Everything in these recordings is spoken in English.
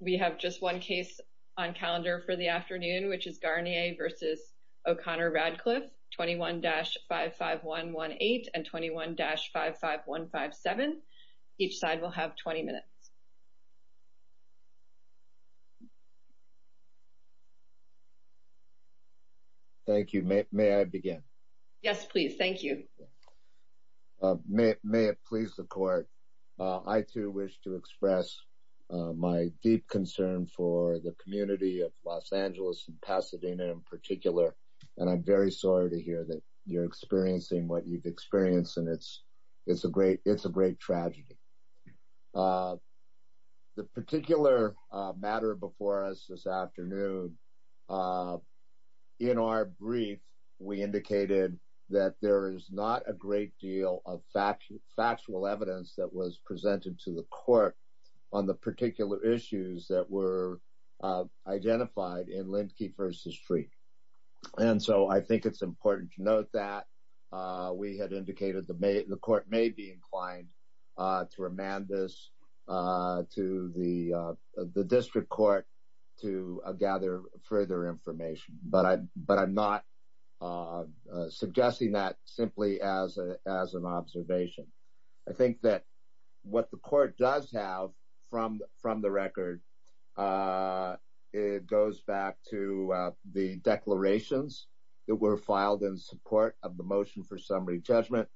We have just one case on calendar for the afternoon, which is Garnier v. O'Connor-Ratcliff, 21-55118 and 21-55157. Each side will have 20 minutes. Thank you. May I begin? Yes, please. Thank you. May it please the Court, I too wish to express my deep concern for the community of Los Angeles and Pasadena in particular, and I'm very sorry to hear that you're experiencing what you've experienced, and it's a great tragedy. The particular matter before us this afternoon, in our brief, we indicated that there is not a great deal of factual evidence that was presented to the Court on the particular issues that were identified in Lindquist v. Streeck. And so I think it's important to note that we had indicated the Court may be inclined to remand this to the District Court to gather further information, but I'm not suggesting that simply as an observation. I think that what the Court does have from the record, it goes back to the declarations that were filed in support of the motion for summary judgment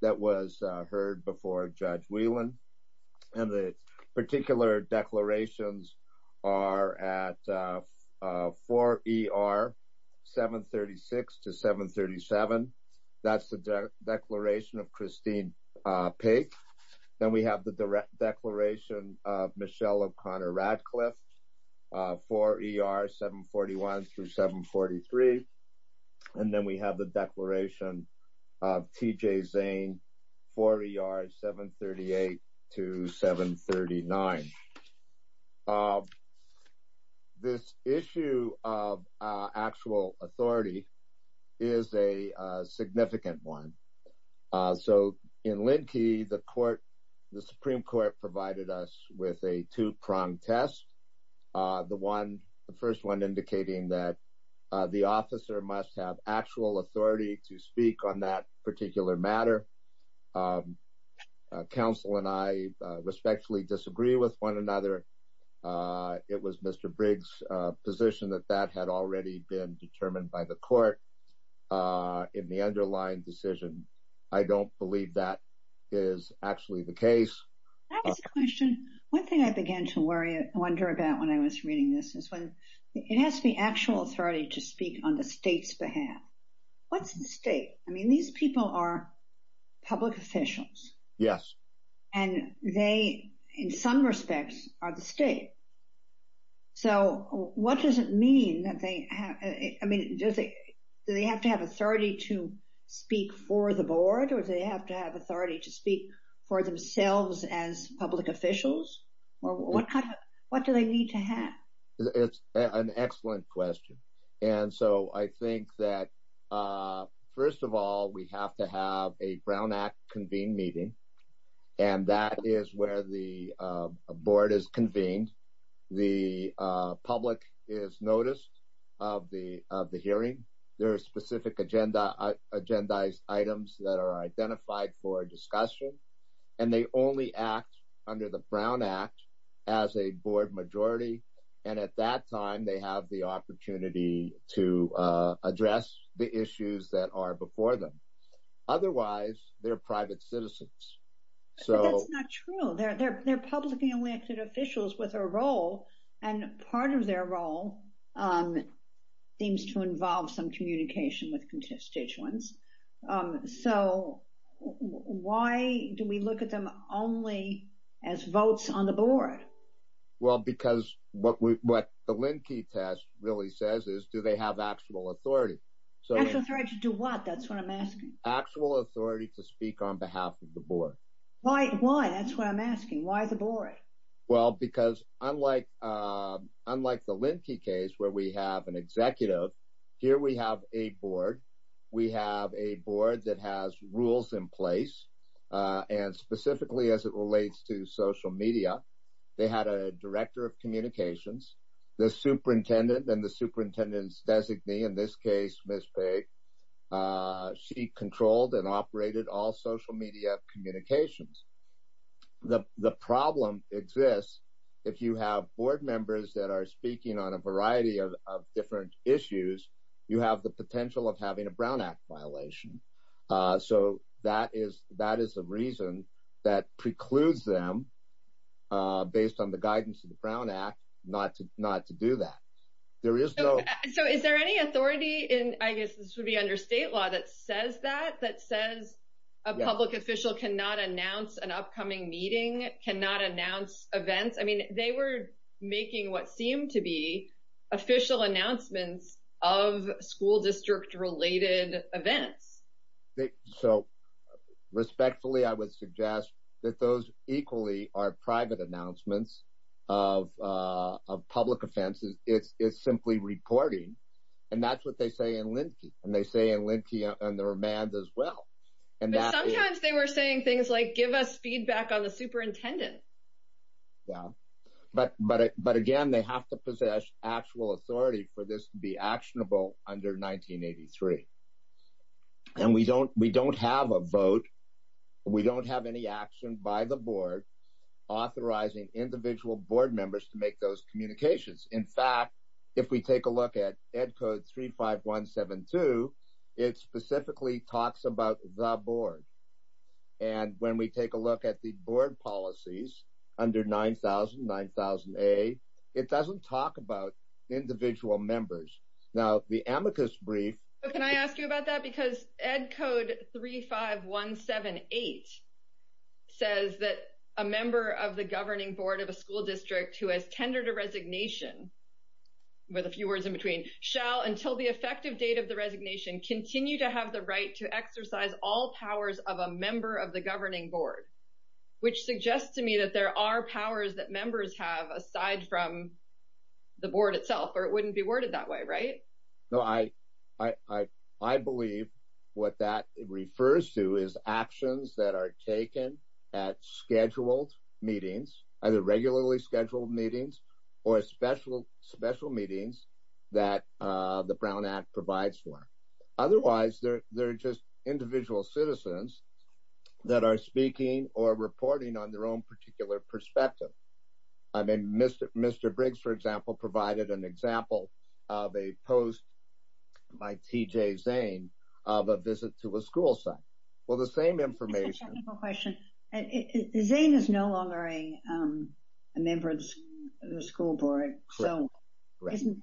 that was heard before Judge Whelan, and the particular declarations are at 4ER 736 to 737. That's the declaration of Christine Paik. Then we have the declaration of Michelle O'Connor Radcliffe 4ER 741 through 743. And then we have the declaration of T.J. Zane 4ER 738 to 739. This issue of actual authority is a significant one. So in Lindquist, the Supreme Court provided us with a two-pronged test. The first one indicating that the officer must have actual authority to speak on that particular matter. Counsel and I respectfully disagree with one another. It was Mr. Briggs' position that that had already been determined by the Court in the underlying decision. I don't believe that is actually the case. That's a question. One thing I began to wonder about when I was reading this is when it has the actual authority to speak on the state's behalf. What's the state? I mean, these people are public officials. Yes. And they, in some respects, are the state. So what does it mean that they have, I mean, do they have to have authority to speak for the Board or do they have to have authority to speak for themselves as public officials? What do they need to have? It's an excellent question. And so I think that, first of all, we have to have a Brown Act convened meeting. And that is where the Board is convened. The identified for discussion. And they only act under the Brown Act as a Board majority. And at that time, they have the opportunity to address the issues that are before them. Otherwise, they're private citizens. That's not true. They're publicly elected officials with a role. And part of their role seems to involve some communication with constituents. So why do we look at them only as votes on the Board? Well, because what the Linkey test really says is, do they have actual authority? Actual authority to do what? That's what I'm asking. Actual authority to speak on behalf of the Board. Why? Why? That's what I'm asking. Why the Board? Well, because unlike the Linkey case, where we have an executive, here we have a Board. We have a Board that has rules in place. And specifically, as it relates to social media, they had a director of communications. The superintendent and the superintendent's designee, in this case, Ms. Page, she controlled and operated all social media communications. The problem exists if you have Board members that are speaking on a variety of different issues, you have the potential of having a Brown Act violation. So that is the reason that precludes them, based on the guidance of the Brown Act, not to do that. So is there any authority in, I guess this would be under state law, that says that? That says a public official cannot announce an upcoming meeting, cannot announce events? I mean, they were making what seemed to be official announcements of school district-related events. So respectfully, I would suggest that those equally are private announcements of public offenses. It's simply reporting. And that's what they say in Linkey. And they say in Linkey and the remand as well. But sometimes they were saying things like, give us feedback on the superintendent. Yeah. But again, they have to possess actual authority for this to be actionable under 1983. And we don't have a vote. We don't have any action by the Board authorizing individual Board members to make those communications. In fact, if we take a look at Ed Code 35172, it specifically talks about the Board. And when we take a look at the Board policies under 9000, 9000A, it doesn't talk about individual members. Now, the amicus brief... Can I ask you about that? Because Ed Code 35178 says that a member of the governing Board of a school district who has tendered a resignation, with a few words in between, shall, until the effective date of the resignation, continue to have the right to exercise all powers of a member of the governing Board, which suggests to me that there are powers that members have aside from the Board itself. Or it wouldn't be worded that way, right? No, I believe what that refers to is actions that are taken at scheduled meetings, either regularly scheduled meetings, or special meetings that the Brown Act provides for. Otherwise, they're just individual citizens that are speaking or reporting on their own particular perspective. I mean, Mr. Briggs, for example, provided an example of a post by T.J. Zane of a visit to a school site. Well, the same information... I have a technical question. Zane is no longer a member of the school board, so isn't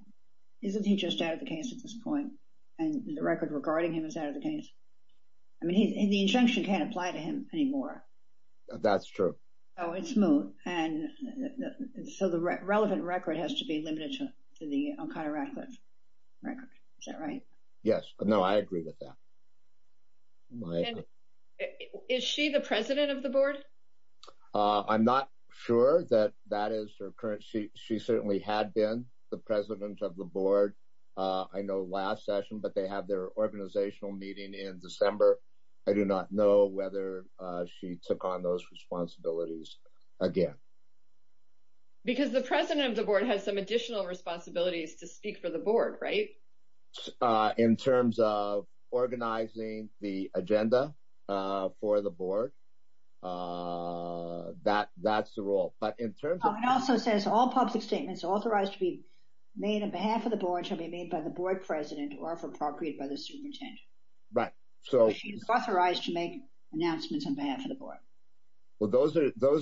he just out of the case at this point? And the record regarding him is out of the case? I mean, the injunction can't apply to him anymore. That's true. Oh, it's smooth. And so the relevant record has to be limited to the Uncontracted record. Is that right? Yes. No, I agree with that. Is she the president of the Board? I'm not sure that that is her current... She certainly had been the president of the Board, I know, last session, but they have their organizational meeting in December. I do not know whether she took on those responsibilities again. Because the president of the Board has some additional responsibilities to speak for the Board, right? In terms of organizing the agenda for the Board, that's the role. But in terms of... It also says all public statements authorized to be made on behalf of the Board shall be made by the Board president or, if appropriate, by the superintendent. Right. So she's authorized to make announcements on behalf of the Board. Well, those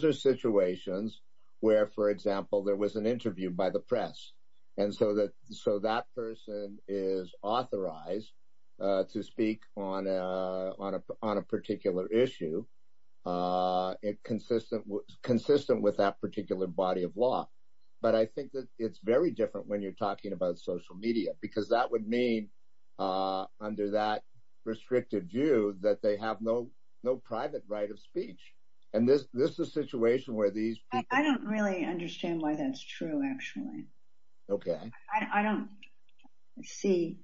are situations where, for example, there was an interview by the press. And so that person is authorized to speak on a particular issue, consistent with that particular body of law. But I think that it's very different when you're talking about social media, because that would mean, under that restrictive view, that they have no private right of speech. And this is a situation where these people... I don't really understand why that's true, actually. I don't see,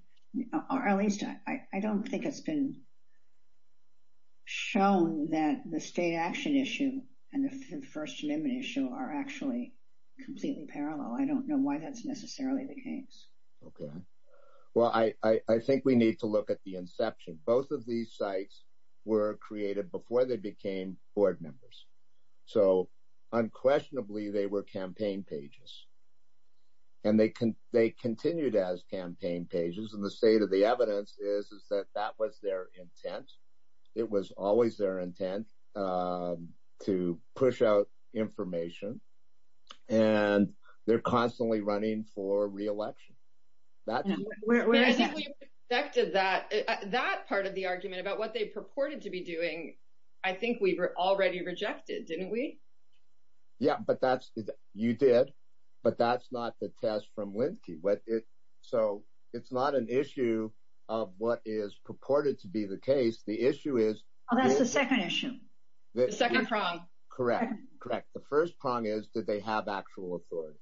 or at least I don't think it's been shown that the state action issue and the First Amendment issue are actually completely parallel. I don't know why that's necessarily the case. Okay. Well, I think we need to look at the inception. Both of these sites were created before they became Board members. So unquestionably, they were campaign pages. And they continued as campaign pages. And the state of the evidence is that that was their intent. It was always their intent to push out information. And they're constantly running for re-election. I think we rejected that part of the argument about what they purported to be doing. I think we were already rejected, didn't we? Yeah, but that's... you did. But that's not the test from Lindqy. So it's not an issue of what is purported to be the case. The issue is... Oh, that's the second issue. The second prong. Correct. Correct. The first prong is that they have actual authority.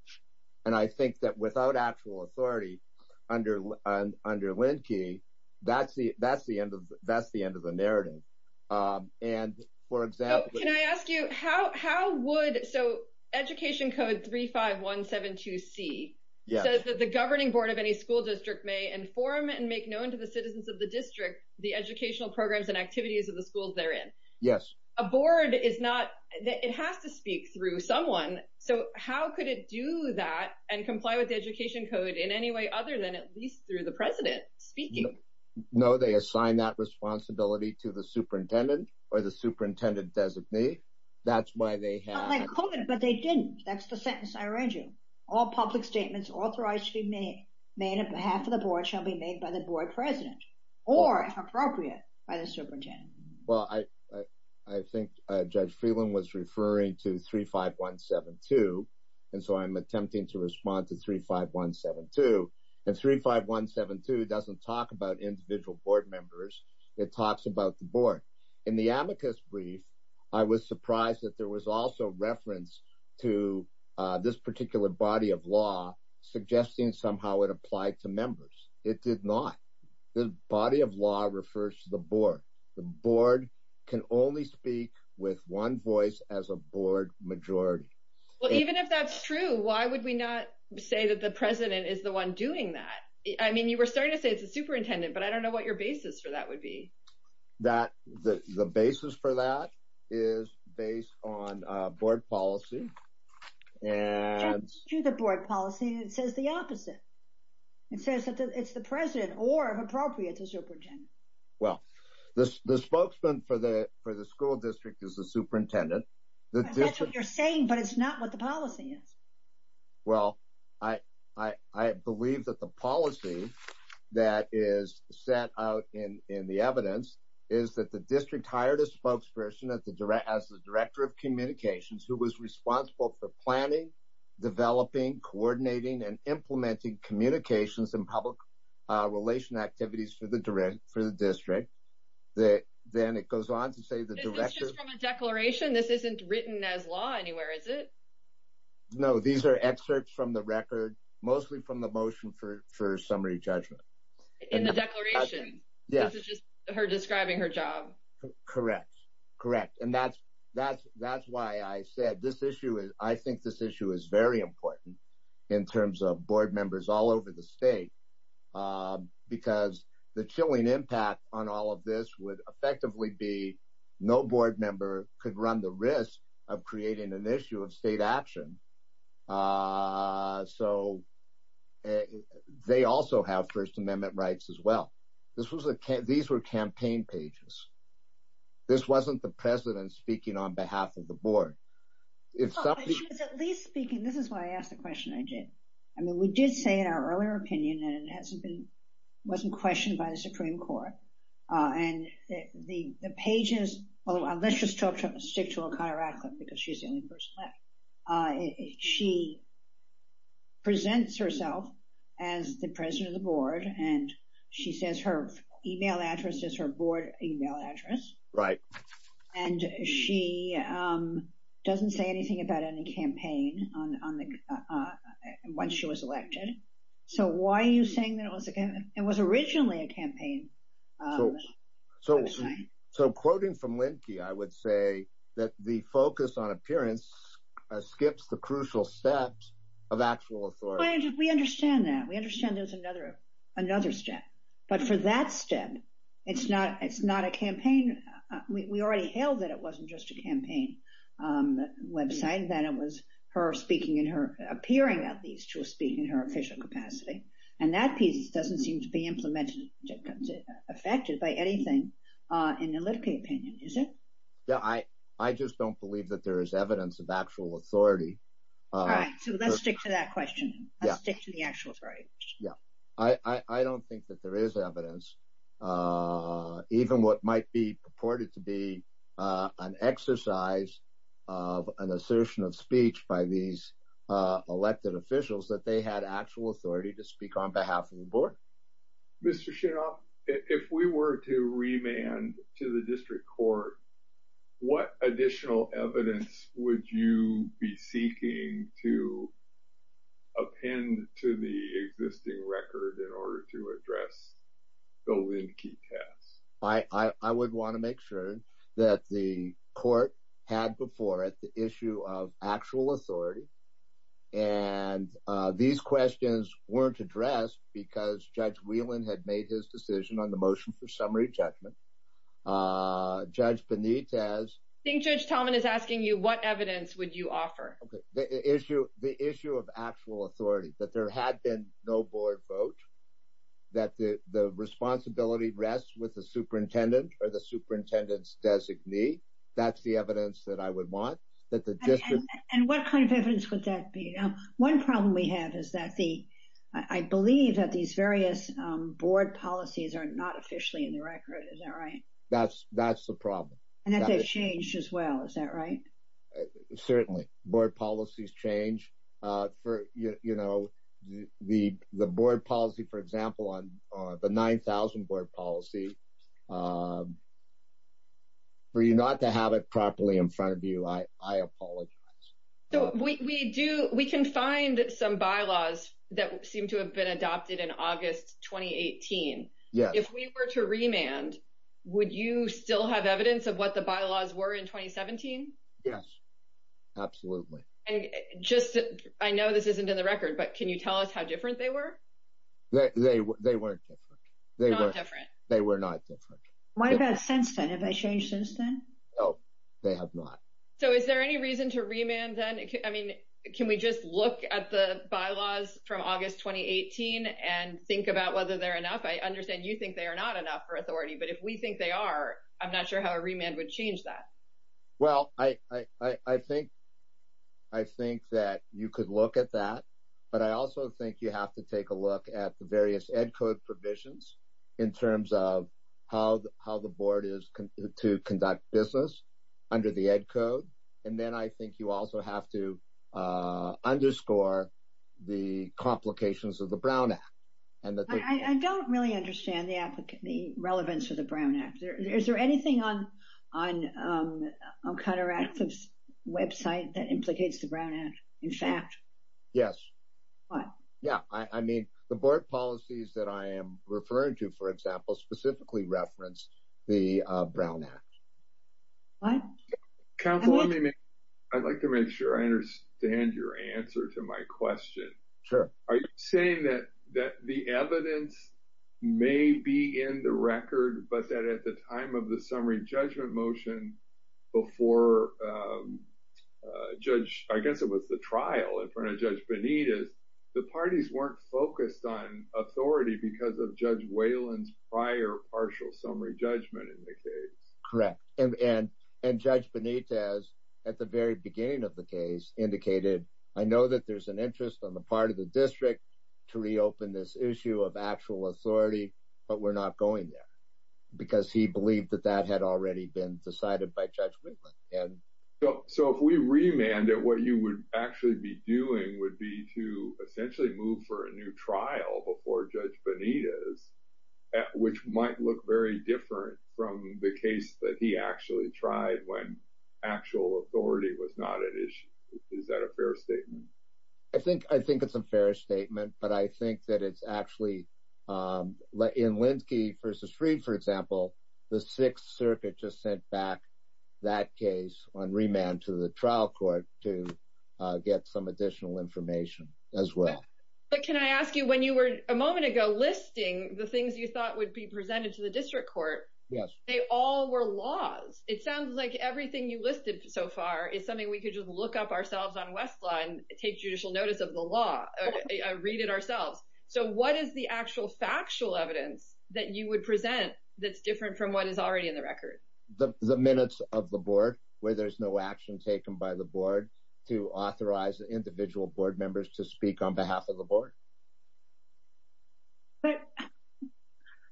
And I think that without actual authority under Lindqy, that's the end of the narrative. And for example... Can I ask you, how would... so Education Code 35172C says that the governing board of any school district may inform and make known to the citizens of the district the educational programs and activities of the schools they're in. Yes. A board is not... it has to speak through someone. So how could it do that and comply with the Education Code in any way other than at least through the president speaking? No, they assign that responsibility to the superintendent or superintendent-designee. That's why they have... Not like COVID, but they didn't. That's the sentence I arranged you. All public statements authorized to be made on behalf of the board shall be made by the board president or, if appropriate, by the superintendent. Well, I think Judge Freeland was referring to 35172. And so I'm attempting to respond to 35172. And 35172 doesn't talk about individual board members. It talks about the board. In the amicus brief, I was surprised that there was also reference to this particular body of law suggesting somehow it applied to members. It did not. The body of law refers to the board. The board can only speak with one voice as a board majority. Well, even if that's true, why would we not say that the president is the one doing that? I mean, you were starting to say it's the superintendent, but I don't know what your basis for that would be. The basis for that is based on board policy. It's the board policy that says the opposite. It says that it's the president or, if appropriate, the superintendent. Well, the spokesman for the school district is the superintendent. That's what you're saying, but it's not what the policy is. Well, I believe that the policy that is set out in the evidence is that the district hired a spokesperson as the director of communications who was responsible for planning, developing, coordinating, and implementing communications and public relation activities for the district. Then it goes on to say the director... Is this just from a declaration? This isn't written as law anywhere, is it? No. These are excerpts from the record, mostly from the motion for summary judgment. In the declaration? Yes. This is just her describing her job? Correct. And that's why I said I think this issue is very important in terms of board members all over the state because the chilling impact on all of this would effectively be no board member could run the risk of creating an issue of state action. They also have First Amendment rights as well. These were campaign pages. This wasn't the president speaking on behalf of the board. She was at least speaking... This is why I asked the question I did. We did say in our earlier opinion that it wasn't questioned by the Supreme Court. The pages... Let's just stick to a chiropractor because she's the only person left. She presents herself as the president of the board and she says her email address is her board email address. Right. She doesn't say anything about any campaign once she was elected. Why are you saying that it was originally a campaign? Quoting from Linkey, I would say that the focus on appearance skips the crucial steps of actual authority. We understand that. We understand there's another step. For that step, it's not a campaign. We already held that it wasn't just a campaign website, that it was her speaking and her appearing at least to speak in her official capacity. That piece doesn't seem to be implemented or affected by anything in the Linkey opinion, is it? I just don't believe that there is evidence of actual authority. So let's stick to that question. Let's stick to the actual authority. Yeah. I don't think that there is evidence, even what might be purported to be an exercise of an assertion of speech by these elected officials, that they had actual authority to speak on behalf of the board. Mr. Shinolf, if we were to remand to the district court, what additional evidence would you be seeking to append to the existing record in order to address the Linkey test? I would want to make sure that the court had before it the issue of actual authority. And these questions weren't addressed because Judge had made his decision on the motion for summary judgment. Judge Benitez. I think Judge Talman is asking you what evidence would you offer? Okay. The issue of actual authority, that there had been no board vote, that the responsibility rests with the superintendent or the superintendent's designee. That's the evidence that I would want. And what kind of evidence would that be? One problem we have is that I believe that these various board policies are not officially in the record. Is that right? That's the problem. And that they've changed as well. Is that right? Certainly. Board policies change. The board policy, for example, on the 9,000 board policy, for you not to have it properly in front of you, I apologize. So we can find some bylaws that seem to have been adopted in August 2018. Yes. If we were to remand, would you still have evidence of what the bylaws were in 2017? Yes. Absolutely. I know this isn't in the record, but can you tell us how different they were? They weren't different. They were not different. What about since then? Have they changed since then? No, they have not. So is there any reason to remand then? I mean, can we just look at the bylaws from August 2018 and think about whether they're enough? I understand you think they are not enough for authority. But if we think they are, I'm not sure how a remand would change that. Well, I think that you could look at that. But I also think you have to take a look at the various Ed Code provisions in terms of how the board is to conduct business under the Ed Code. And then I think you also have to underscore the complications of the Brown Act. I don't really understand the relevance of the Brown Act. Is there anything on CounterActive's website that implicates the Brown Act, in fact? Yes. I mean, the board policies that I am referring to, for example, specifically reference the Brown Act. I'd like to make sure I understand your answer to my question. Are you saying that the evidence may be in the record, but that at the time of the summary motion before Judge, I guess it was the trial in front of Judge Benitez, the parties weren't focused on authority because of Judge Whalen's prior partial summary judgment in the case? Correct. And Judge Benitez at the very beginning of the case indicated, I know that there's an interest on the part of the district to reopen this issue of actual authority, but we're not going there because he believed that that had already been decided by Judge Whalen. So if we remanded, what you would actually be doing would be to essentially move for a new trial before Judge Benitez, which might look very different from the case that he actually tried when actual authority was not an issue. Is that a fair statement? I think it's a fair statement, but I think that it's actually, in Linsky v. Fried, for example, the Sixth Circuit just sent back that case on remand to the trial court to get some additional information as well. But can I ask you, when you were a moment ago listing the things you thought would be presented to the district court, they all were laws. It sounds like everything you listed so far is something we could just look up ourselves on Westlaw and take judicial notice of the law, read it ourselves. So what is the actual factual evidence that you would present that's different from what is already in the record? The minutes of the board where there's no action taken by the board to authorize individual board members to speak on behalf of the board.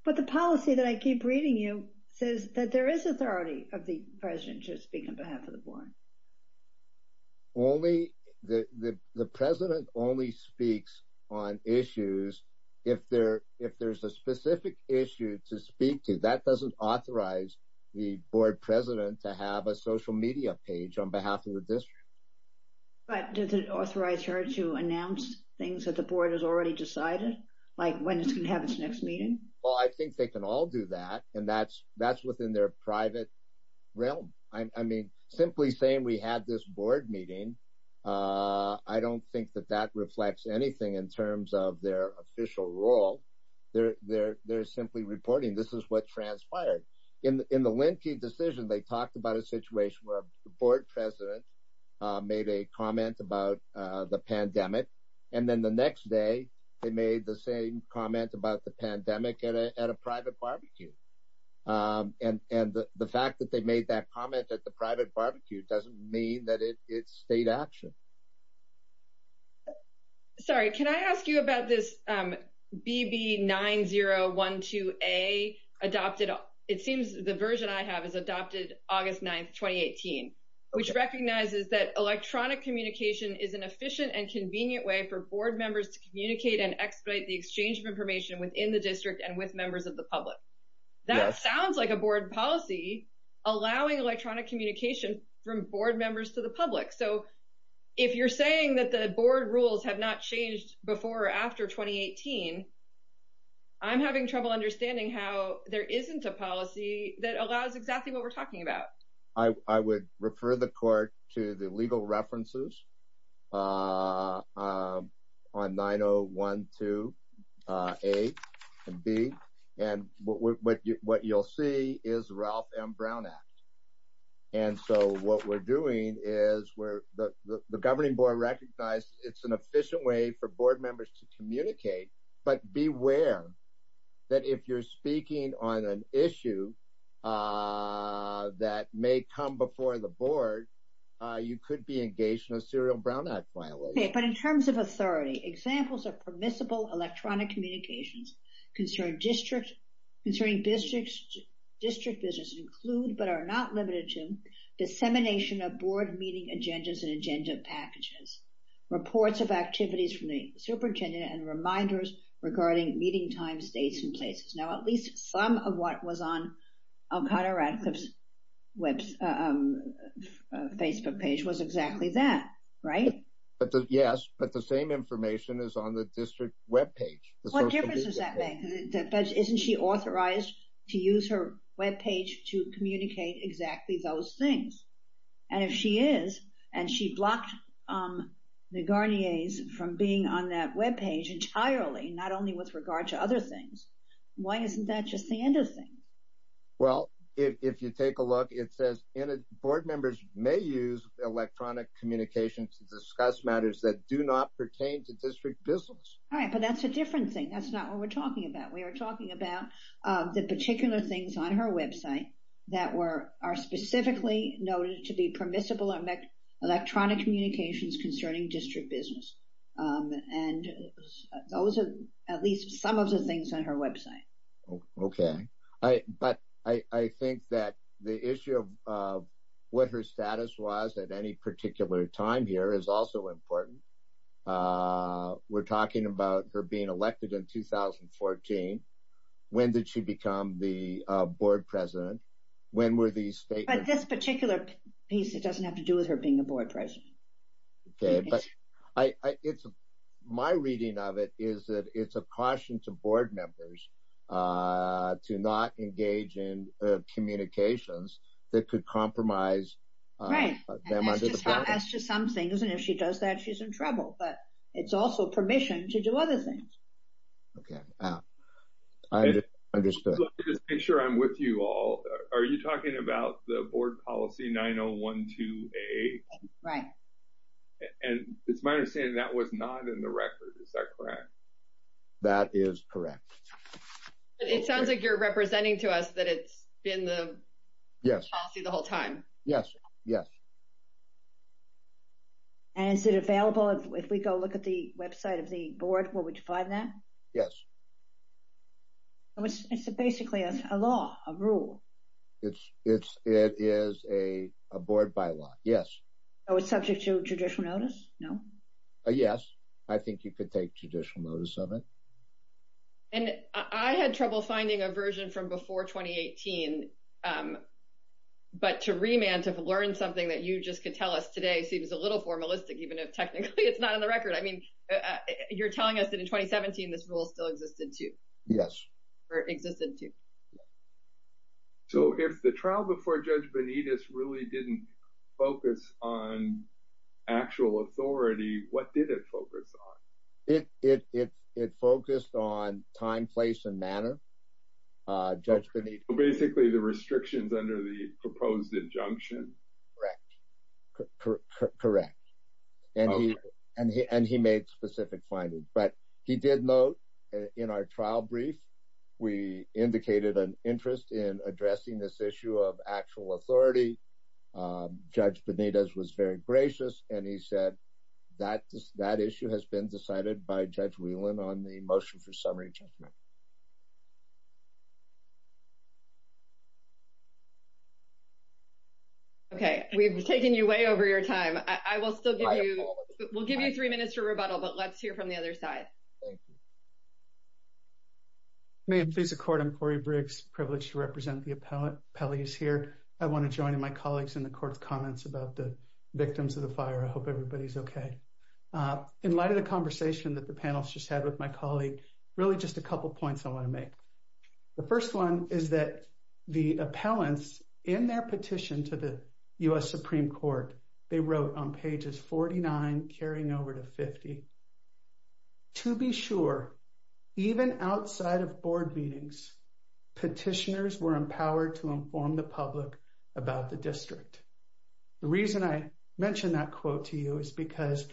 But the policy that I keep reading you says that there is authority of the president to speak on behalf of the board. The president only speaks on issues if there's a specific issue to speak to. That doesn't authorize the board president to have a social media page on behalf of the district. But does it authorize her to announce things that the board has already decided, like when it's going to have its next meeting? Well, I think they can all do that. And that's within their private realm. I mean, simply saying we had this board meeting, I don't think that that reflects anything in terms of their official role. They're simply reporting. This is what transpired. In the Linkey decision, they talked about a situation where the board president made a comment about the pandemic. And then the next day, they made the same comment about the pandemic at a private barbecue. And the fact that they made that comment at the private barbecue doesn't mean that it's state action. Sorry, can I ask you about this? BB9012A adopted. It seems the version I have is adopted August 9th, 2018, which recognizes that electronic communication is an efficient and convenient way for board members to communicate and expedite the exchange of information within the district and with members of the public. That sounds like a board policy allowing electronic communication from board members to the public. So if you're saying that the board rules have not changed before or after 2018, I'm having trouble understanding how there isn't a policy that allows exactly what we're talking about. I would refer the court to the legal references on 9012A and B. And what you'll see is Ralph M. Brown Act. And so what we're doing is where the governing board recognized it's an efficient way for board members to communicate and expedite the exchange of information within the district. That may come before the board. You could be engaged in a serial Brown Act violation. But in terms of authority, examples of permissible electronic communications concerning district business include but are not limited to dissemination of board meeting agendas and agenda packages, reports of activities from the superintendent and reminders regarding meeting times, dates, and places. Now, at least some of what was on Alcotta Radcliffe's Facebook page was exactly that, right? Yes, but the same information is on the district webpage. What difference does that make? Isn't she authorized to use her webpage to communicate exactly those things? And if she is, and she blocked the Garniers from being on that webpage entirely, not only with regard to other things, why isn't that just the end of things? Well, if you take a look, it says board members may use electronic communication to discuss matters that do not pertain to district business. All right, but that's a different thing. That's not what we're talking about. We are talking about the particular things on her website that are specifically noted to be permissible electronic communications concerning district business. And those are at least some of the things on her website. Okay, but I think that the issue of what her status was at any particular time here is also important. We're talking about her being elected in 2014. When did she become the board president? When were these statements? But this particular piece, it doesn't have to do with her being a board president. Okay, but my reading of it is that it's a caution to board members to not engage in communications that could compromise them under the government. That's just some things, and if she does that, she's in trouble. But it's also permission to do other things. Okay, I understood. Just to make sure I'm with you all, are you talking about the board policy 9012A? Right. And it's my understanding that was not in the record. Is that correct? That is correct. It sounds like you're representing to us that it's been the policy the whole time. Yes, yes. And is it available if we go look at the website of the board where we define that? Yes. So it's basically a law, a rule. It is a board bylaw, yes. So it's subject to judicial notice, no? Yes, I think you could take judicial notice of it. And I had trouble finding a version from before 2018. But to remand, to learn something that you just could tell us today seems a little formalistic, even if technically it's not on the record. I mean, you're telling us that in 2017, this rule still existed too? Or existed too. So if the trial before Judge Benitez really didn't focus on actual authority, what did it focus on? It focused on time, place, and manner. Judge Benitez. Basically, the restrictions under the proposed injunction? Correct. Correct. And he made specific findings. But he did note in our trial brief, we indicated an interest in addressing this issue of actual authority. Judge Benitez was very gracious, and he said that issue has been decided by Judge Whelan on the motion for summary judgment. Okay. We've taken you way over your time. I will still give you three minutes for rebuttal, but let's hear from the other side. Thank you. May it please the court, I'm Corey Briggs, privileged to represent the appellees here. I want to join in my colleagues in the court's comments about the victims of the fire. I hope everybody's okay. In light of the conversation that the panelists just had with my colleague, really just a couple points I want to make. The first one is that the appellants, in their petition to the U.S. Supreme Court, they wrote on pages 49, carrying over to 50, to be sure, even outside of board meetings, petitioners were empowered to inform the public about the district. The reason I mentioned that quote to you is because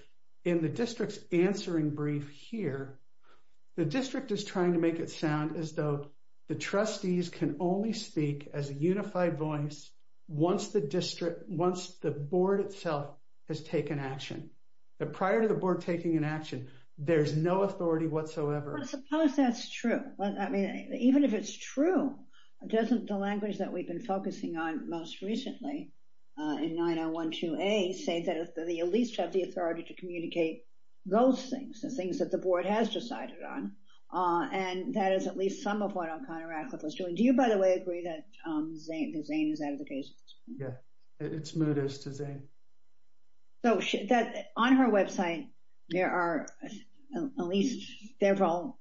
in the district's answering brief here, the district is trying to make it sound as though the trustees can only speak as a unified voice once the district, once the board itself has taken action. Prior to the board taking an action, there's no authority whatsoever. I suppose that's true. Even if it's true, doesn't the language that we've been focusing on most recently in 9012A say that they at least have the authority to communicate those things, the things that the board has decided on? That is at least some of what O'Connor Radcliffe was doing. Do you, by the way, agree that Zane is out of the case? Yeah, it's moot as to Zane. So on her website, there are at least several,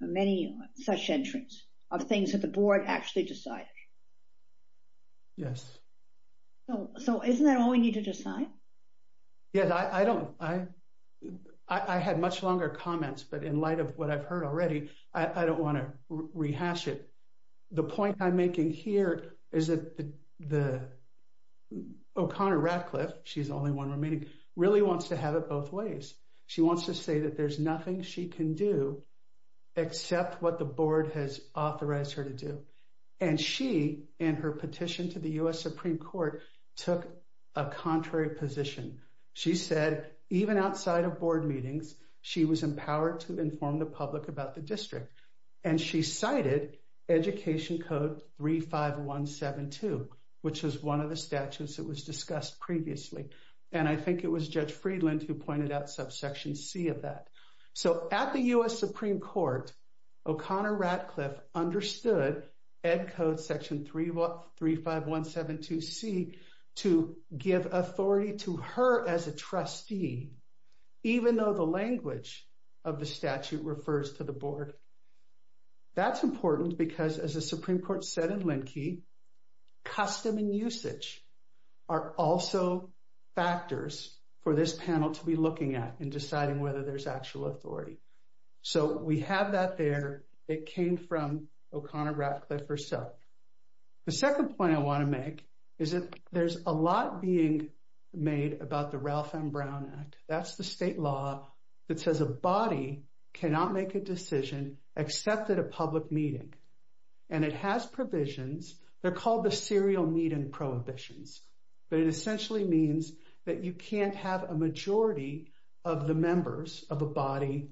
many such entries of things that the board actually decided. Yes. So isn't that all we need to decide? Yes, I had much longer comments, but in light of what I've heard already, I don't want to rehash it. The point I'm making here is that O'Connor Radcliffe, she's the only one remaining, really wants to have it both ways. She wants to say that there's nothing she can do except what the board has authorized her to do. And she, in her petition to the U.S. Supreme Court, took a contrary position. She said, even outside of board meetings, she was empowered to inform the public about the district. And she cited Education Code 35172, which was one of the statutes that was discussed previously. And I think it was Judge Friedland who pointed out subsection C of that. So at the U.S. Supreme Court, O'Connor Radcliffe understood Ed Code section 35172C to give authority to her as a trustee, even though the language of the statute refers to the board. That's important because, as the Supreme Court said in Linkey, custom and usage are also factors for this panel to be looking at and deciding whether there's actual authority. So we have that there. It came from O'Connor Radcliffe herself. The second point I want to make is that there's a lot being made about the Ralph M. Brown Act. That's the state law that says a body cannot make a decision except at a public meeting. And it has provisions. They're called the serial meeting prohibitions. But it essentially means that you can't have a majority of the members of a body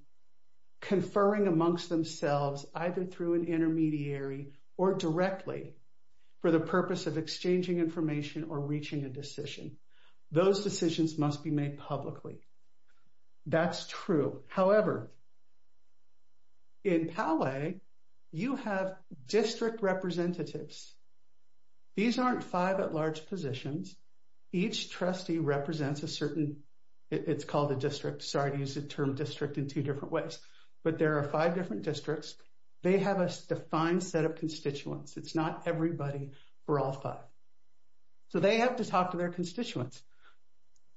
conferring amongst themselves, either through an intermediary or directly, for the purpose of exchanging information or reaching a decision. Those decisions must be made publicly. That's true. However, in PALE, you have district representatives. These aren't five at-large positions. Each trustee represents a certain, it's called a district. Sorry to use the term district in two different ways. But there are five different districts. They have a defined set of constituents. It's not everybody. We're all five. So they have to talk to their constituents.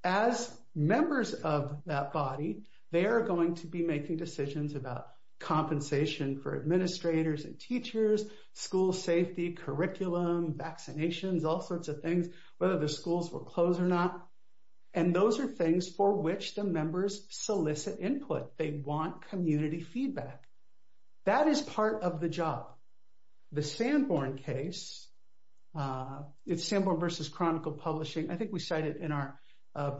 As members of that body, they are going to be making decisions about compensation for administrators and teachers, school safety, curriculum, vaccinations, all sorts of things, whether the schools will close or not. And those are things for which the members solicit input. They want community feedback. That is part of the job. The Sanborn case, it's Sanborn versus Chronicle Publishing. I think we cite it in our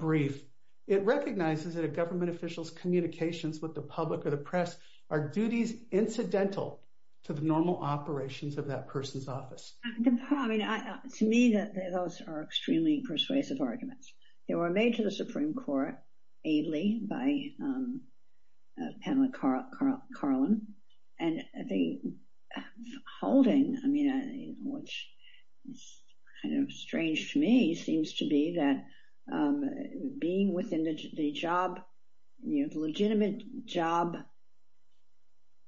brief. It recognizes that a government official's communications with the public or the press are duties incidental to the normal operations of that person's office. To me, those are extremely persuasive arguments. They were made to the Supreme Court aidly by Pamela Carlin. And the holding, which is kind of strange to me, seems to be that being within the legitimate job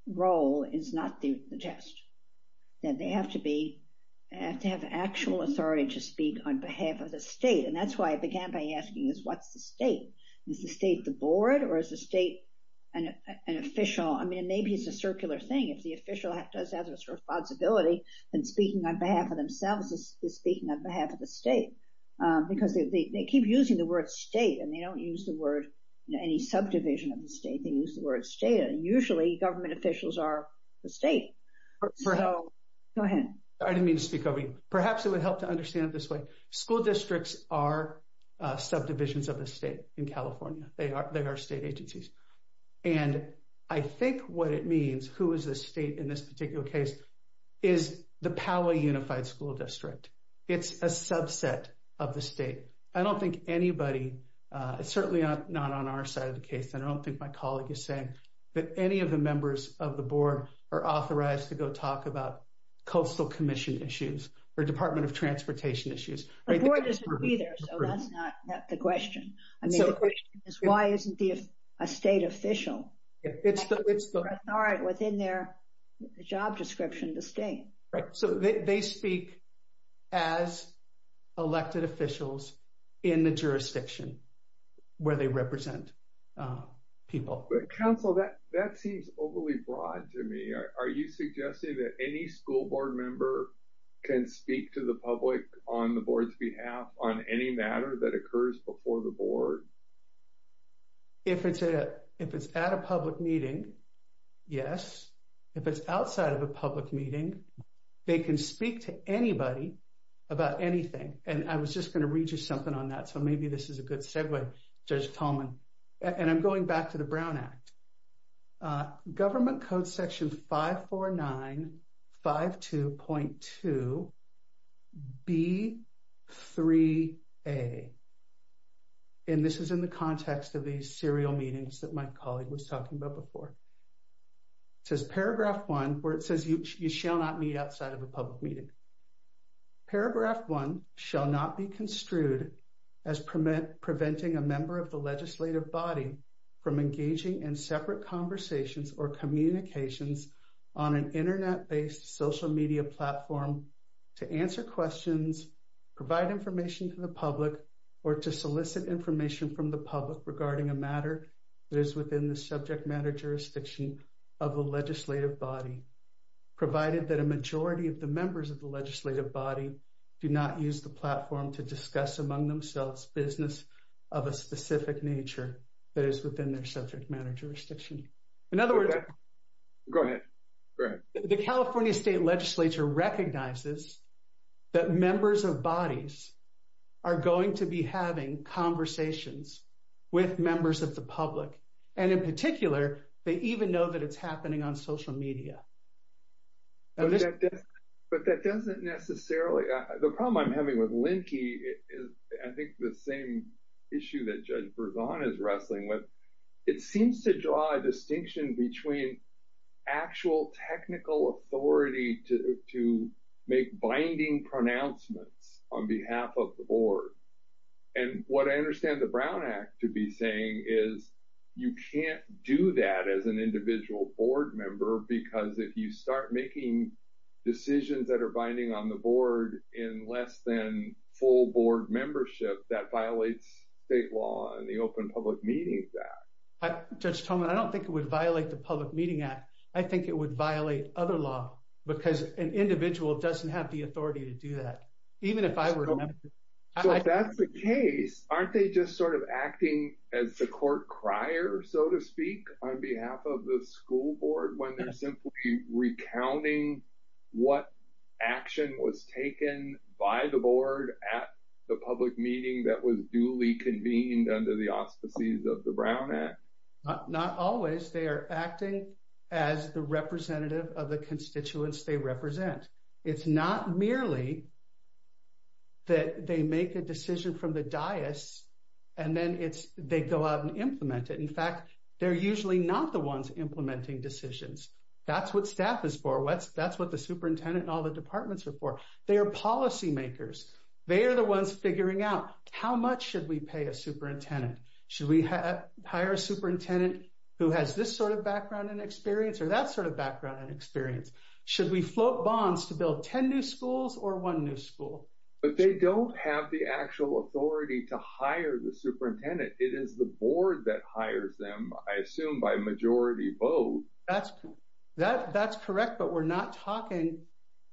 role is not the test. That they have to have actual authority to speak on behalf of the state. That's why I began by asking, what's the state? Is the state the board, or is the state an official? I mean, maybe it's a circular thing. If the official does have this responsibility, then speaking on behalf of themselves is speaking on behalf of the state. Because they keep using the word state, and they don't use the word any subdivision of the state. They use the word state. Usually, government officials are the state. Go ahead. I didn't mean to speak over you. Perhaps it would help to understand it this way. School districts are subdivisions of the state in California. They are state agencies. And I think what it means, who is the state in this particular case, is the power unified school district. It's a subset of the state. I don't think anybody, it's certainly not on our side of the case. I don't think my colleague is saying that any of the members of the board are authorized to go talk about coastal commission issues or Department of Transportation issues. The board doesn't agree there, so that's not the question. I mean, the question is, why isn't a state official within their job description to stay? Right. So they speak as elected officials in the jurisdiction where they represent people. Counsel, that seems overly broad to me. Are you suggesting that any school board member can speak to the public on the board's behalf on any matter that occurs before the board? If it's at a public meeting, yes. If it's outside of a public meeting, they can speak to anybody about anything. And I was just going to read you something on that. So maybe this is a good segue, Judge Coleman. And I'm going back to the Brown Act. Government Code Section 54952.2 B3A. And this is in the context of these serial meetings that my colleague was talking about before. It says paragraph 1, where it says you shall not meet outside of a public meeting. Paragraph 1 shall not be construed as preventing a member of the legislative body from engaging in separate conversations or communications on an internet-based social media platform to answer questions, provide information to the public, or to solicit information from the public regarding a matter that is within the subject matter jurisdiction of the legislative body, provided that a majority of the members of the legislative body do not use the platform to discuss among themselves business of a specific nature that is within their subject matter jurisdiction. In other words... Go ahead. Go ahead. The California State Legislature recognizes that members of bodies are going to be having conversations with members of the public. And in particular, they even know that it's happening on social media. But that doesn't necessarily... The problem I'm having with Linkey is I think the same issue that Judge Berzon is wrestling with. It seems to draw a distinction between actual technical authority to make binding pronouncements on behalf of the board. And what I understand the Brown Act to be saying is you can't do that as an individual board because if you start making decisions that are binding on the board in less than full board membership, that violates state law and the Open Public Meetings Act. Judge Tolman, I don't think it would violate the Public Meeting Act. I think it would violate other law because an individual doesn't have the authority to do that. Even if I were... So if that's the case, aren't they just sort of acting as the court crier, so to speak, on behalf of the school board when they're simply recounting what action was taken by the board at the public meeting that was duly convened under the auspices of the Brown Act? Not always. They are acting as the representative of the constituents they represent. It's not merely that they make a decision from the dais and then they go out and implement it. They're usually not the ones implementing decisions. That's what staff is for. That's what the superintendent and all the departments are for. They are policy makers. They are the ones figuring out how much should we pay a superintendent. Should we hire a superintendent who has this sort of background and experience or that sort of background and experience? Should we float bonds to build 10 new schools or one new school? But they don't have the actual authority to hire the superintendent. It is the board that hires them, I assume, by majority vote. That's correct, but we're not talking...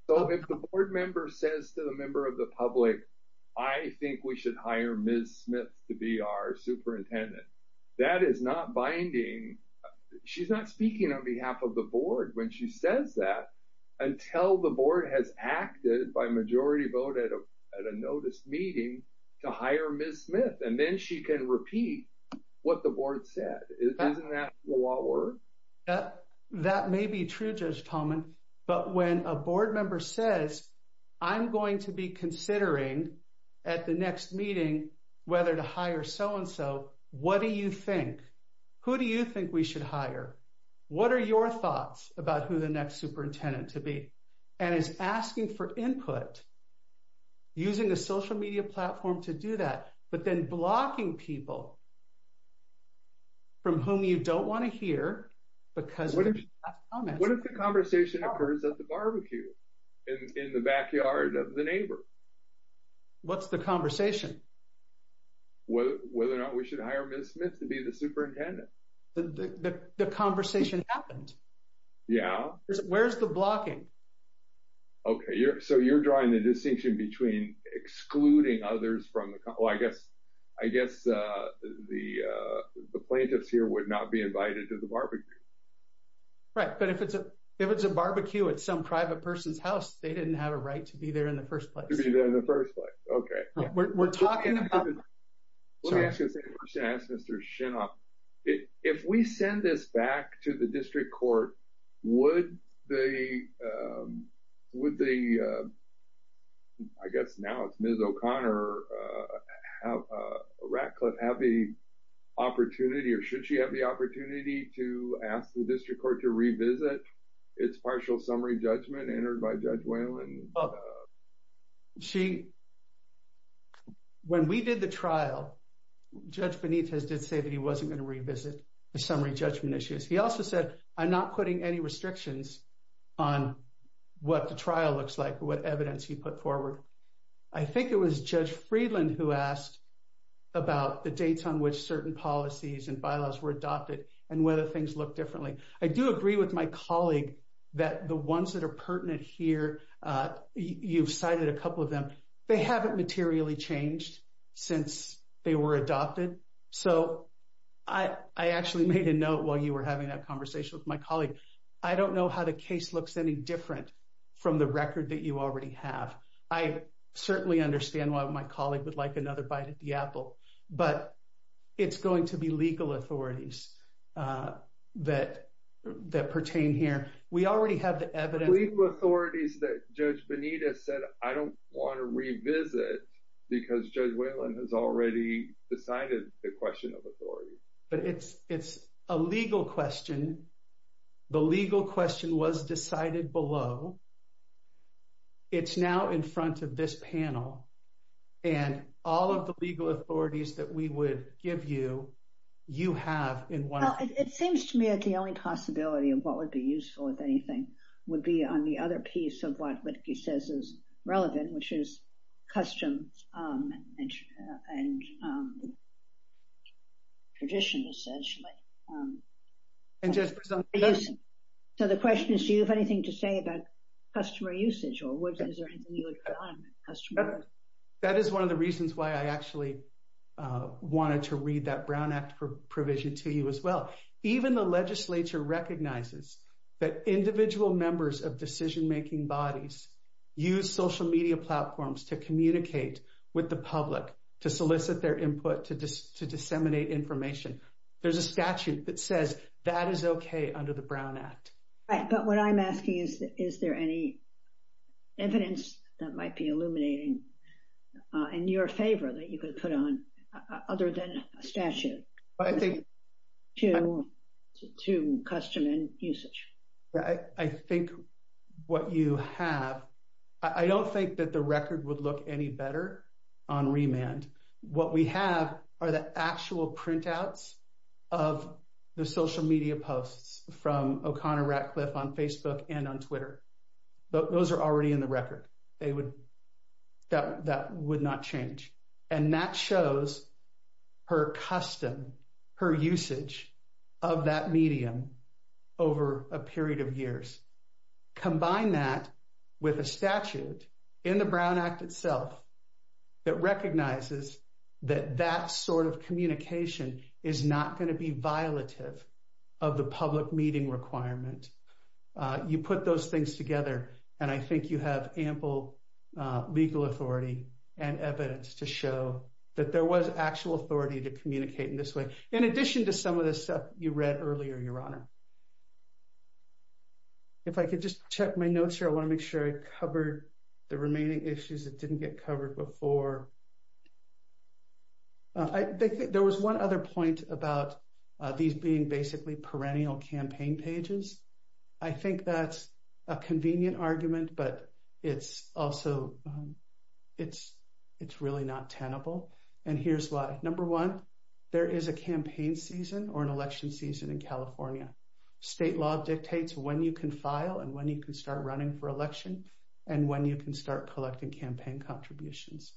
So if the board member says to the member of the public, I think we should hire Ms. Smith to be our superintendent, that is not binding. She's not speaking on behalf of the board when she says that until the board has acted by majority vote at a notice meeting to hire Ms. Smith. And then she can repeat what the board said. Isn't that the law of the world? That may be true, Judge Tallman. But when a board member says, I'm going to be considering at the next meeting whether to hire so-and-so, what do you think? Who do you think we should hire? What are your thoughts about who the next superintendent to be? And is asking for input, using a social media platform to do that. But then blocking people from whom you don't want to hear because... What if the conversation occurs at the barbecue in the backyard of the neighbor? What's the conversation? Whether or not we should hire Ms. Smith to be the superintendent. The conversation happened. Yeah. Where's the blocking? Okay, so you're drawing the distinction between excluding others from the... I guess the plaintiffs here would not be invited to the barbecue. Right, but if it's a barbecue at some private person's house, they didn't have a right to be there in the first place. To be there in the first place. We're talking about... Let me ask you the same question I asked Mr. Shinoff. If we send this back to the district court, would the... I guess now it's Ms. O'Connor, Ratcliffe have the opportunity or should she have the opportunity to ask the district court to revisit its partial summary judgment entered by Judge Whalen? She... When we did the trial, Judge Benitez did say that he wasn't going to revisit the summary judgment issues. He also said, I'm not putting any restrictions on what the trial looks like, what evidence he put forward. I think it was Judge Friedland who asked about the dates on which certain policies and bylaws were adopted and whether things look differently. I do agree with my colleague that the ones that are pertinent here, you've cited a couple of them. They haven't materially changed since they were adopted. So I actually made a note while you were having that conversation with my colleague. I don't know how the case looks any different from the record that you already have. I certainly understand why my colleague would like another bite at the apple, but it's going to be legal authorities that pertain here. We already have the evidence... Legal authorities that Judge Benitez said, I don't want to revisit because Judge Whalen has already decided the question of authority. But it's a legal question. The legal question was decided below. It's now in front of this panel. And all of the legal authorities that we would give you, you have in one... Well, it seems to me that the only possibility of what would be useful, if anything, would be on the other piece of what he says is relevant, which is customs and tradition, essentially. So the question is, do you have anything to say about customer usage? That is one of the reasons why I actually wanted to read that Brown Act provision to you as well. Even the legislature recognizes that individual members of decision-making bodies use social media platforms to communicate with the public, to solicit their input, to disseminate information. There's a statute that says that is okay under the Brown Act. Right, but what I'm asking is, is there any evidence that might be illuminating in your favor that you could put on other than a statute to custom and usage? I think what you have... I don't think that the record would look any better on remand. What we have are the actual printouts of the social media posts from O'Connor Ratcliffe on Facebook and on Twitter. Those are already in the record. That would not change. That shows her custom, her usage of that medium over a period of years. Combine that with a statute in the Brown Act itself that recognizes that that sort of communication is not going to be violative of the public meeting requirement. You put those things together, and I think you have ample legal authority and evidence to show that there was actual authority to communicate in this way, in addition to some of the stuff you read earlier, Your Honor. If I could just check my notes here, I want to make sure I covered the remaining issues that didn't get covered before. There was one other point about these being basically perennial campaign pages. I think that's a convenient argument, but it's really not tenable, and here's why. Number one, there is a campaign season or an election season in California. State law dictates when you can file and when you can start running for election and when you can start collecting campaign contributions.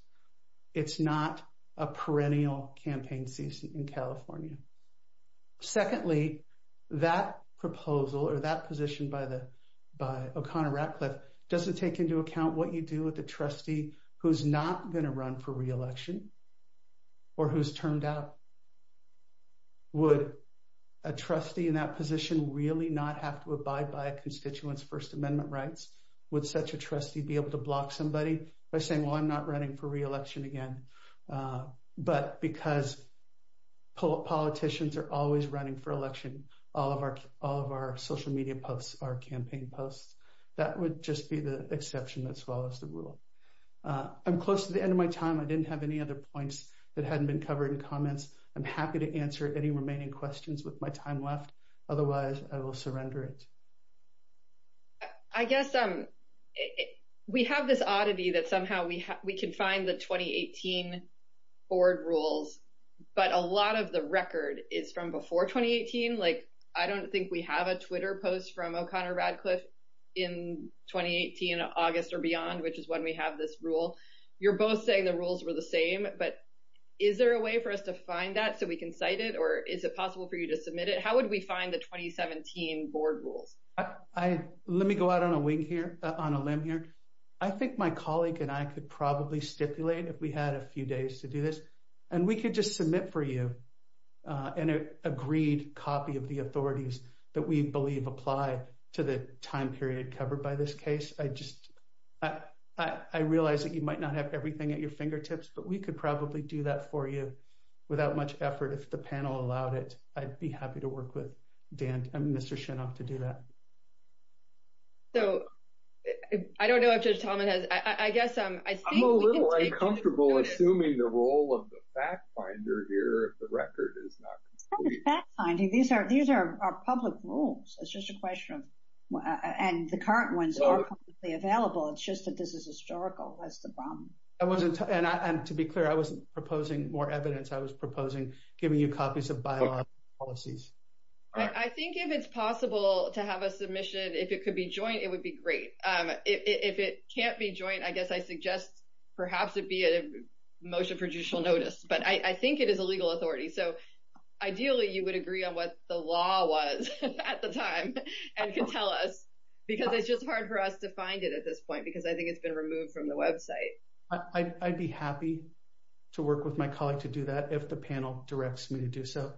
It's not a perennial campaign season in California. Secondly, that proposal or that position by O'Connor Ratcliffe doesn't take into account what you do with a trustee who's not going to run for reelection or who's turned out. Would a trustee in that position really not have to abide by a constituent's First Amendment rights? Would such a trustee be able to block somebody by saying, I'm not running for reelection again, but because politicians are always running for election, all of our social media posts are campaign posts. That would just be the exception that follows the rule. I'm close to the end of my time. I didn't have any other points that hadn't been covered in comments. I'm happy to answer any remaining questions with my time left. Otherwise, I will surrender it. I guess we have this oddity that somehow we can find the 2018 board rules, but a lot of the record is from before 2018. Like, I don't think we have a Twitter post from O'Connor Ratcliffe in 2018, August or beyond, which is when we have this rule. You're both saying the rules were the same, but is there a way for us to find that so we can cite it? Or is it possible for you to submit it? How would we find the 2017 board rules? I, let me go out on a wing here, on a limb here. I think my colleague and I could probably stipulate if we had a few days to do this, and we could just submit for you an agreed copy of the authorities that we believe apply to the time period covered by this case. I just, I realize that you might not have everything at your fingertips, but we could probably do that for you without much effort if the panel allowed it. I'd be happy to work with Dan and Mr. Shinoff to do that. So, I don't know if Judge Talmadge has, I guess, I think we can take- I'm a little uncomfortable assuming the role of the fact finder here, if the record is not complete. It's not a fact finding. These are public rules. It's just a question of, and the current ones are publicly available. It's just that this is historical. That's the problem. I wasn't, and to be clear, I wasn't proposing more evidence. I was proposing giving you copies of bylaws and policies. I think if it's possible to have a submission, if it could be joint, it would be great. If it can't be joint, I guess I suggest perhaps it be a motion for judicial notice, but I think it is a legal authority. So, ideally, you would agree on what the law was at the time and could tell us, because it's just hard for us to find it at this point, because I think it's been removed from the website. I'd be happy to work with my colleague to do that if the panel directs me to do so.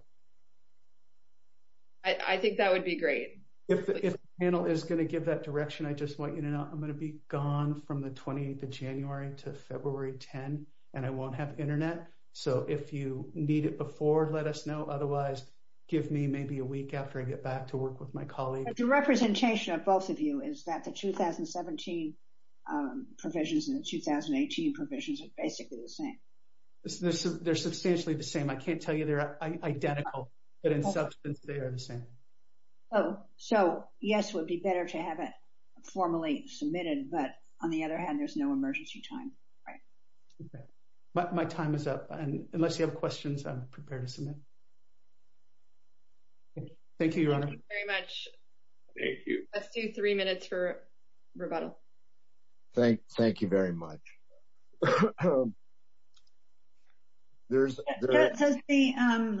I think that would be great. If the panel is going to give that direction, I just want you to know, I'm going to be gone from the 28th of January to February 10, and I won't have internet. So, if you need it before, let us know. Otherwise, give me maybe a week after I get back to work with my colleague. The representation of both of you is that the 2017 provisions and the 2018 provisions are basically the same. They're substantially the same. I can't tell you they're identical, but in substance, they are the same. Oh, so yes, it would be better to have it formally submitted, but on the other hand, there's no emergency time. My time is up, and unless you have questions, I'm prepared to submit. Thank you, Your Honor. Thank you very much. Thank you. Let's do three minutes for rebuttal. Thank you very much. That says the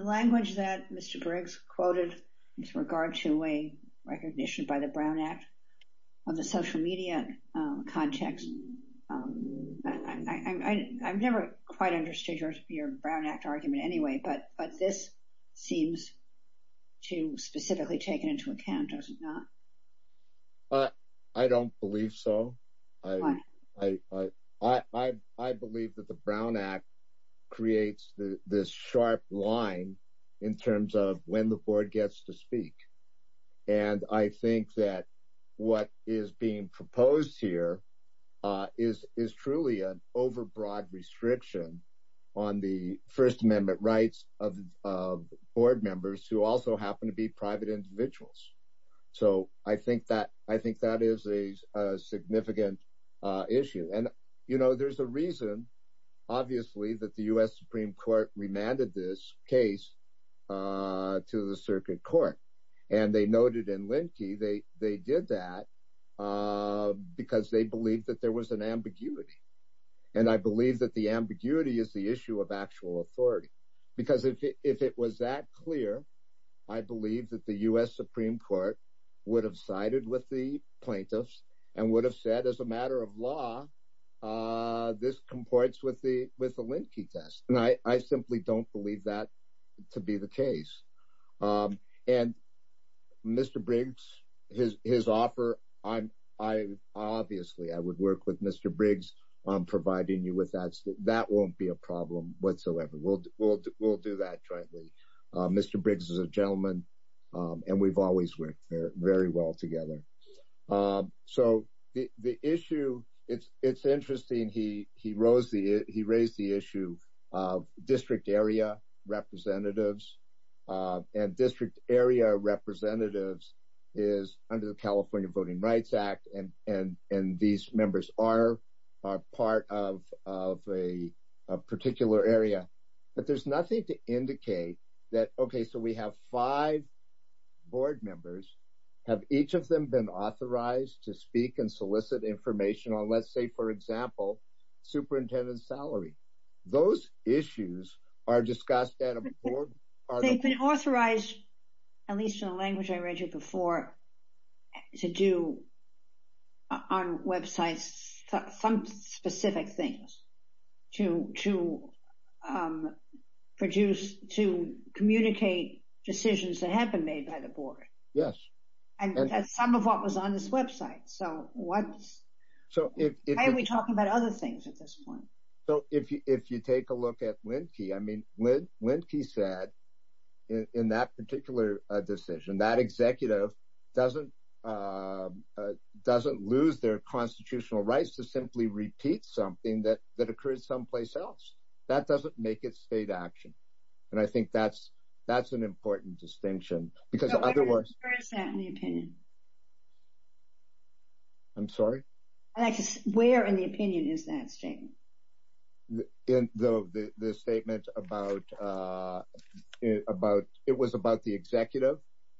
language that Mr. Briggs quoted with regard to a recognition by the Brown Act of the social media context. I've never quite understood your Brown Act argument anyway, but this seems to specifically take it into account, does it not? I don't believe so. I believe that the Brown Act creates this sharp line in terms of when the board gets to speak, and I think that what is being proposed here is truly an overbroad restriction on the First Amendment rights of board members who also happen to be private individuals, so I think that is a significant issue. There's a reason, obviously, that the U.S. Supreme Court remanded this case to the Circuit Court, and they noted in Linkey they did that because they believed that there was an ambiguity, and I believe that the ambiguity is the issue of actual authority, because if it was that clear, I believe that the U.S. Supreme Court would have sided with the plaintiffs and would have said, as a matter of law, this comports with the Linkey test, and I simply don't believe that to be the case. And Mr. Briggs, his offer, obviously, I would work with Mr. Briggs on providing you with that. That won't be a problem whatsoever. We'll do that jointly. Mr. Briggs is a gentleman, and we've always worked very well together. So the issue, it's interesting, he raised the issue of district area representatives, and district area representatives is under the California Voting Rights Act, and these members are part of a particular area, but there's nothing to indicate that, okay, so we have five board members. Have each of them been authorized to speak and solicit information on, let's say, for example, superintendent's salary? Those issues are discussed at a board. They've been authorized, at least in the language I read you before, to do on websites some specific things to communicate decisions that have been made by the board. Yes. And that's some of what was on this website, so why are we talking about other things at this point? So if you take a look at Lindquist, I mean, Lindquist said, in that particular decision, that executive doesn't lose their constitutional rights to simply repeat something that occurred someplace else. That doesn't make it state action, and I think that's an important distinction, because otherwise... Where is that in the opinion? I'm sorry? Where in the opinion is that statement? In the statement about, it was about the executive,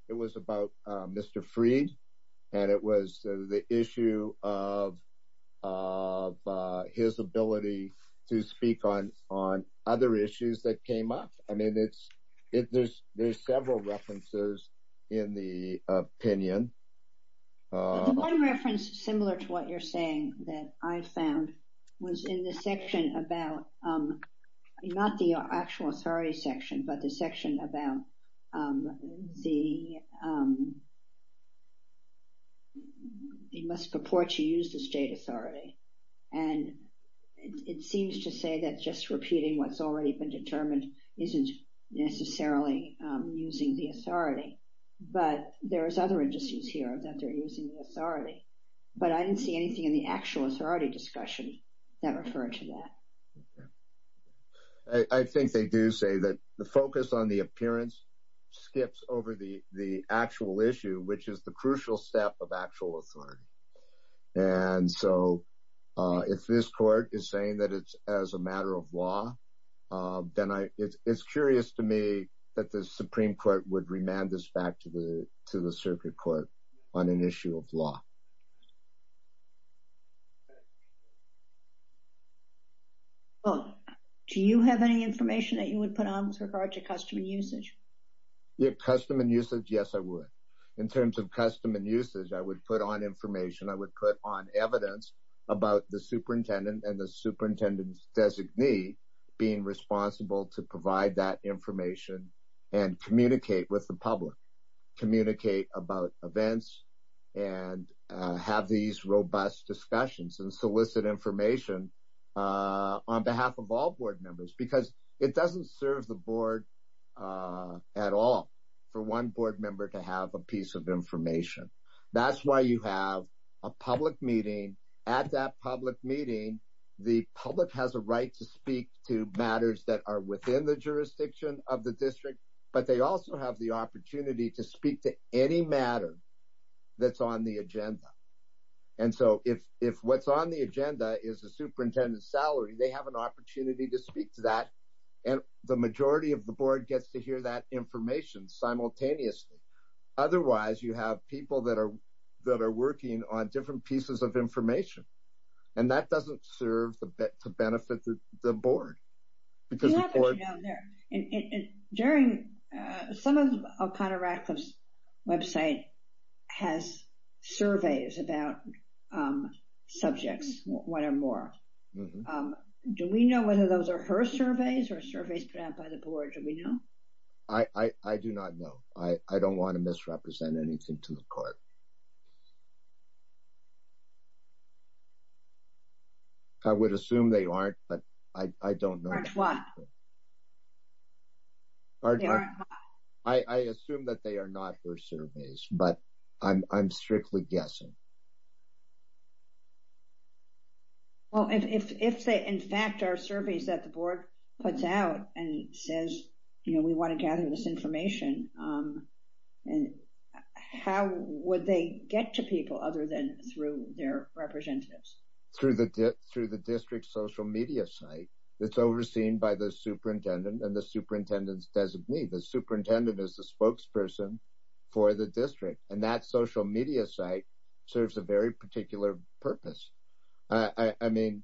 it was about Mr. Fried, and it was the issue of his ability to speak on other issues that came up. I mean, there's several references in the opinion. The one reference similar to what you're saying that I found was in the section about, not the actual authority section, but the section about the, he must purport to use the state authority, and it seems to say that just repeating what's already been determined isn't necessarily using the authority, but there is other issues here that they're using the authority, but I didn't see anything in the actual authority discussion that referred to that. I think they do say that the focus on the appearance skips over the actual issue, which is the crucial step of actual authority, and so if this court is saying that it's as a matter of law, then it's curious to me that the Supreme Court would remand this back to the circuit court on an issue of law. Well, do you have any information that you would put on with regard to custom and usage? Custom and usage, yes, I would. In terms of custom and usage, I would put on information, I would put on evidence about the superintendent and the superintendent's designee being responsible to provide that information and communicate with the public, communicate about events, and have these robust discussions and solicit information on behalf of all board members, because it doesn't serve the board at all for one board member to have a piece of information. That's why you have a public meeting. At that public meeting, the public has a right to speak to matters that are within the jurisdiction of the district, but they also have the opportunity to speak to any matter that's on the agenda, and so if what's on the agenda is a superintendent's salary, they have an opportunity to speak to that, and the majority of the board gets to hear that information simultaneously. Otherwise, you have people that are working on different pieces of information, and that doesn't serve to benefit the board, because the board... What happens down there? Some of O'Connor-Rathliff's website has surveys about subjects, one or more. Do we know whether those are her surveys or surveys put out by the board? Do we know? I do not know. I don't want to misrepresent anything to the court. I would assume they aren't, but I don't know. Aren't what? I assume that they are not her surveys, but I'm strictly guessing. Well, if they, in fact, are surveys that the board puts out and says, you know, we want to gather this information, how would they get to people other than through their representatives? Through the district social media site that's overseen by the superintendent and the superintendent's designee. The superintendent is the spokesperson for the district, and that social media site serves a very particular purpose. I mean,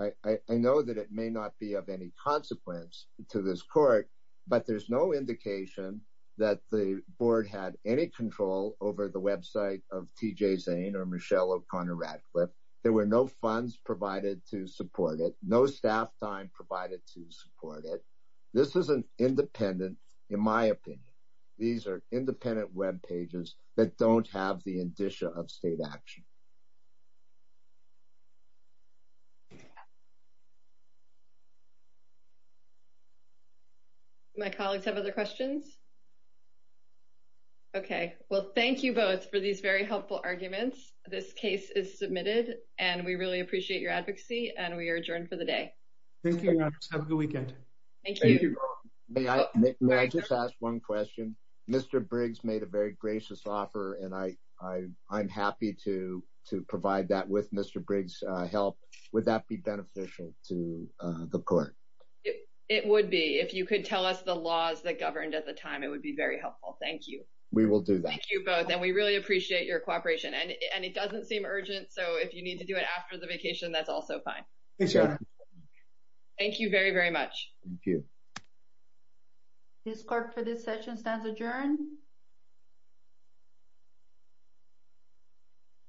I know that it may not be of any consequence to this court, but there's no indication that the board had any control over the website of T.J. Zane or Michelle O'Connor-Rathliff. There were no funds provided to support it, no staff time provided to support it. This is an independent, in my opinion, these are independent web pages that don't have the indicia of state action. My colleagues have other questions? Okay. Well, thank you both for these very helpful arguments. This case is submitted, and we really appreciate your advocacy, and we are adjourned for the day. Thank you, Your Honor. Have a good weekend. Thank you. May I just ask one question? Mr. Briggs made a very gracious offer, and I'm happy to provide that with Mr. Briggs' help. Would that be beneficial to the court? It would be. If you could tell us the laws that governed at the time, it would be very helpful. Thank you. We will do that. Thank you both, and we really appreciate your cooperation. And it doesn't seem urgent, so if you need to do it after the vacation, that's also fine. Thank you very, very much. Thank you. This court for this session stands adjourned.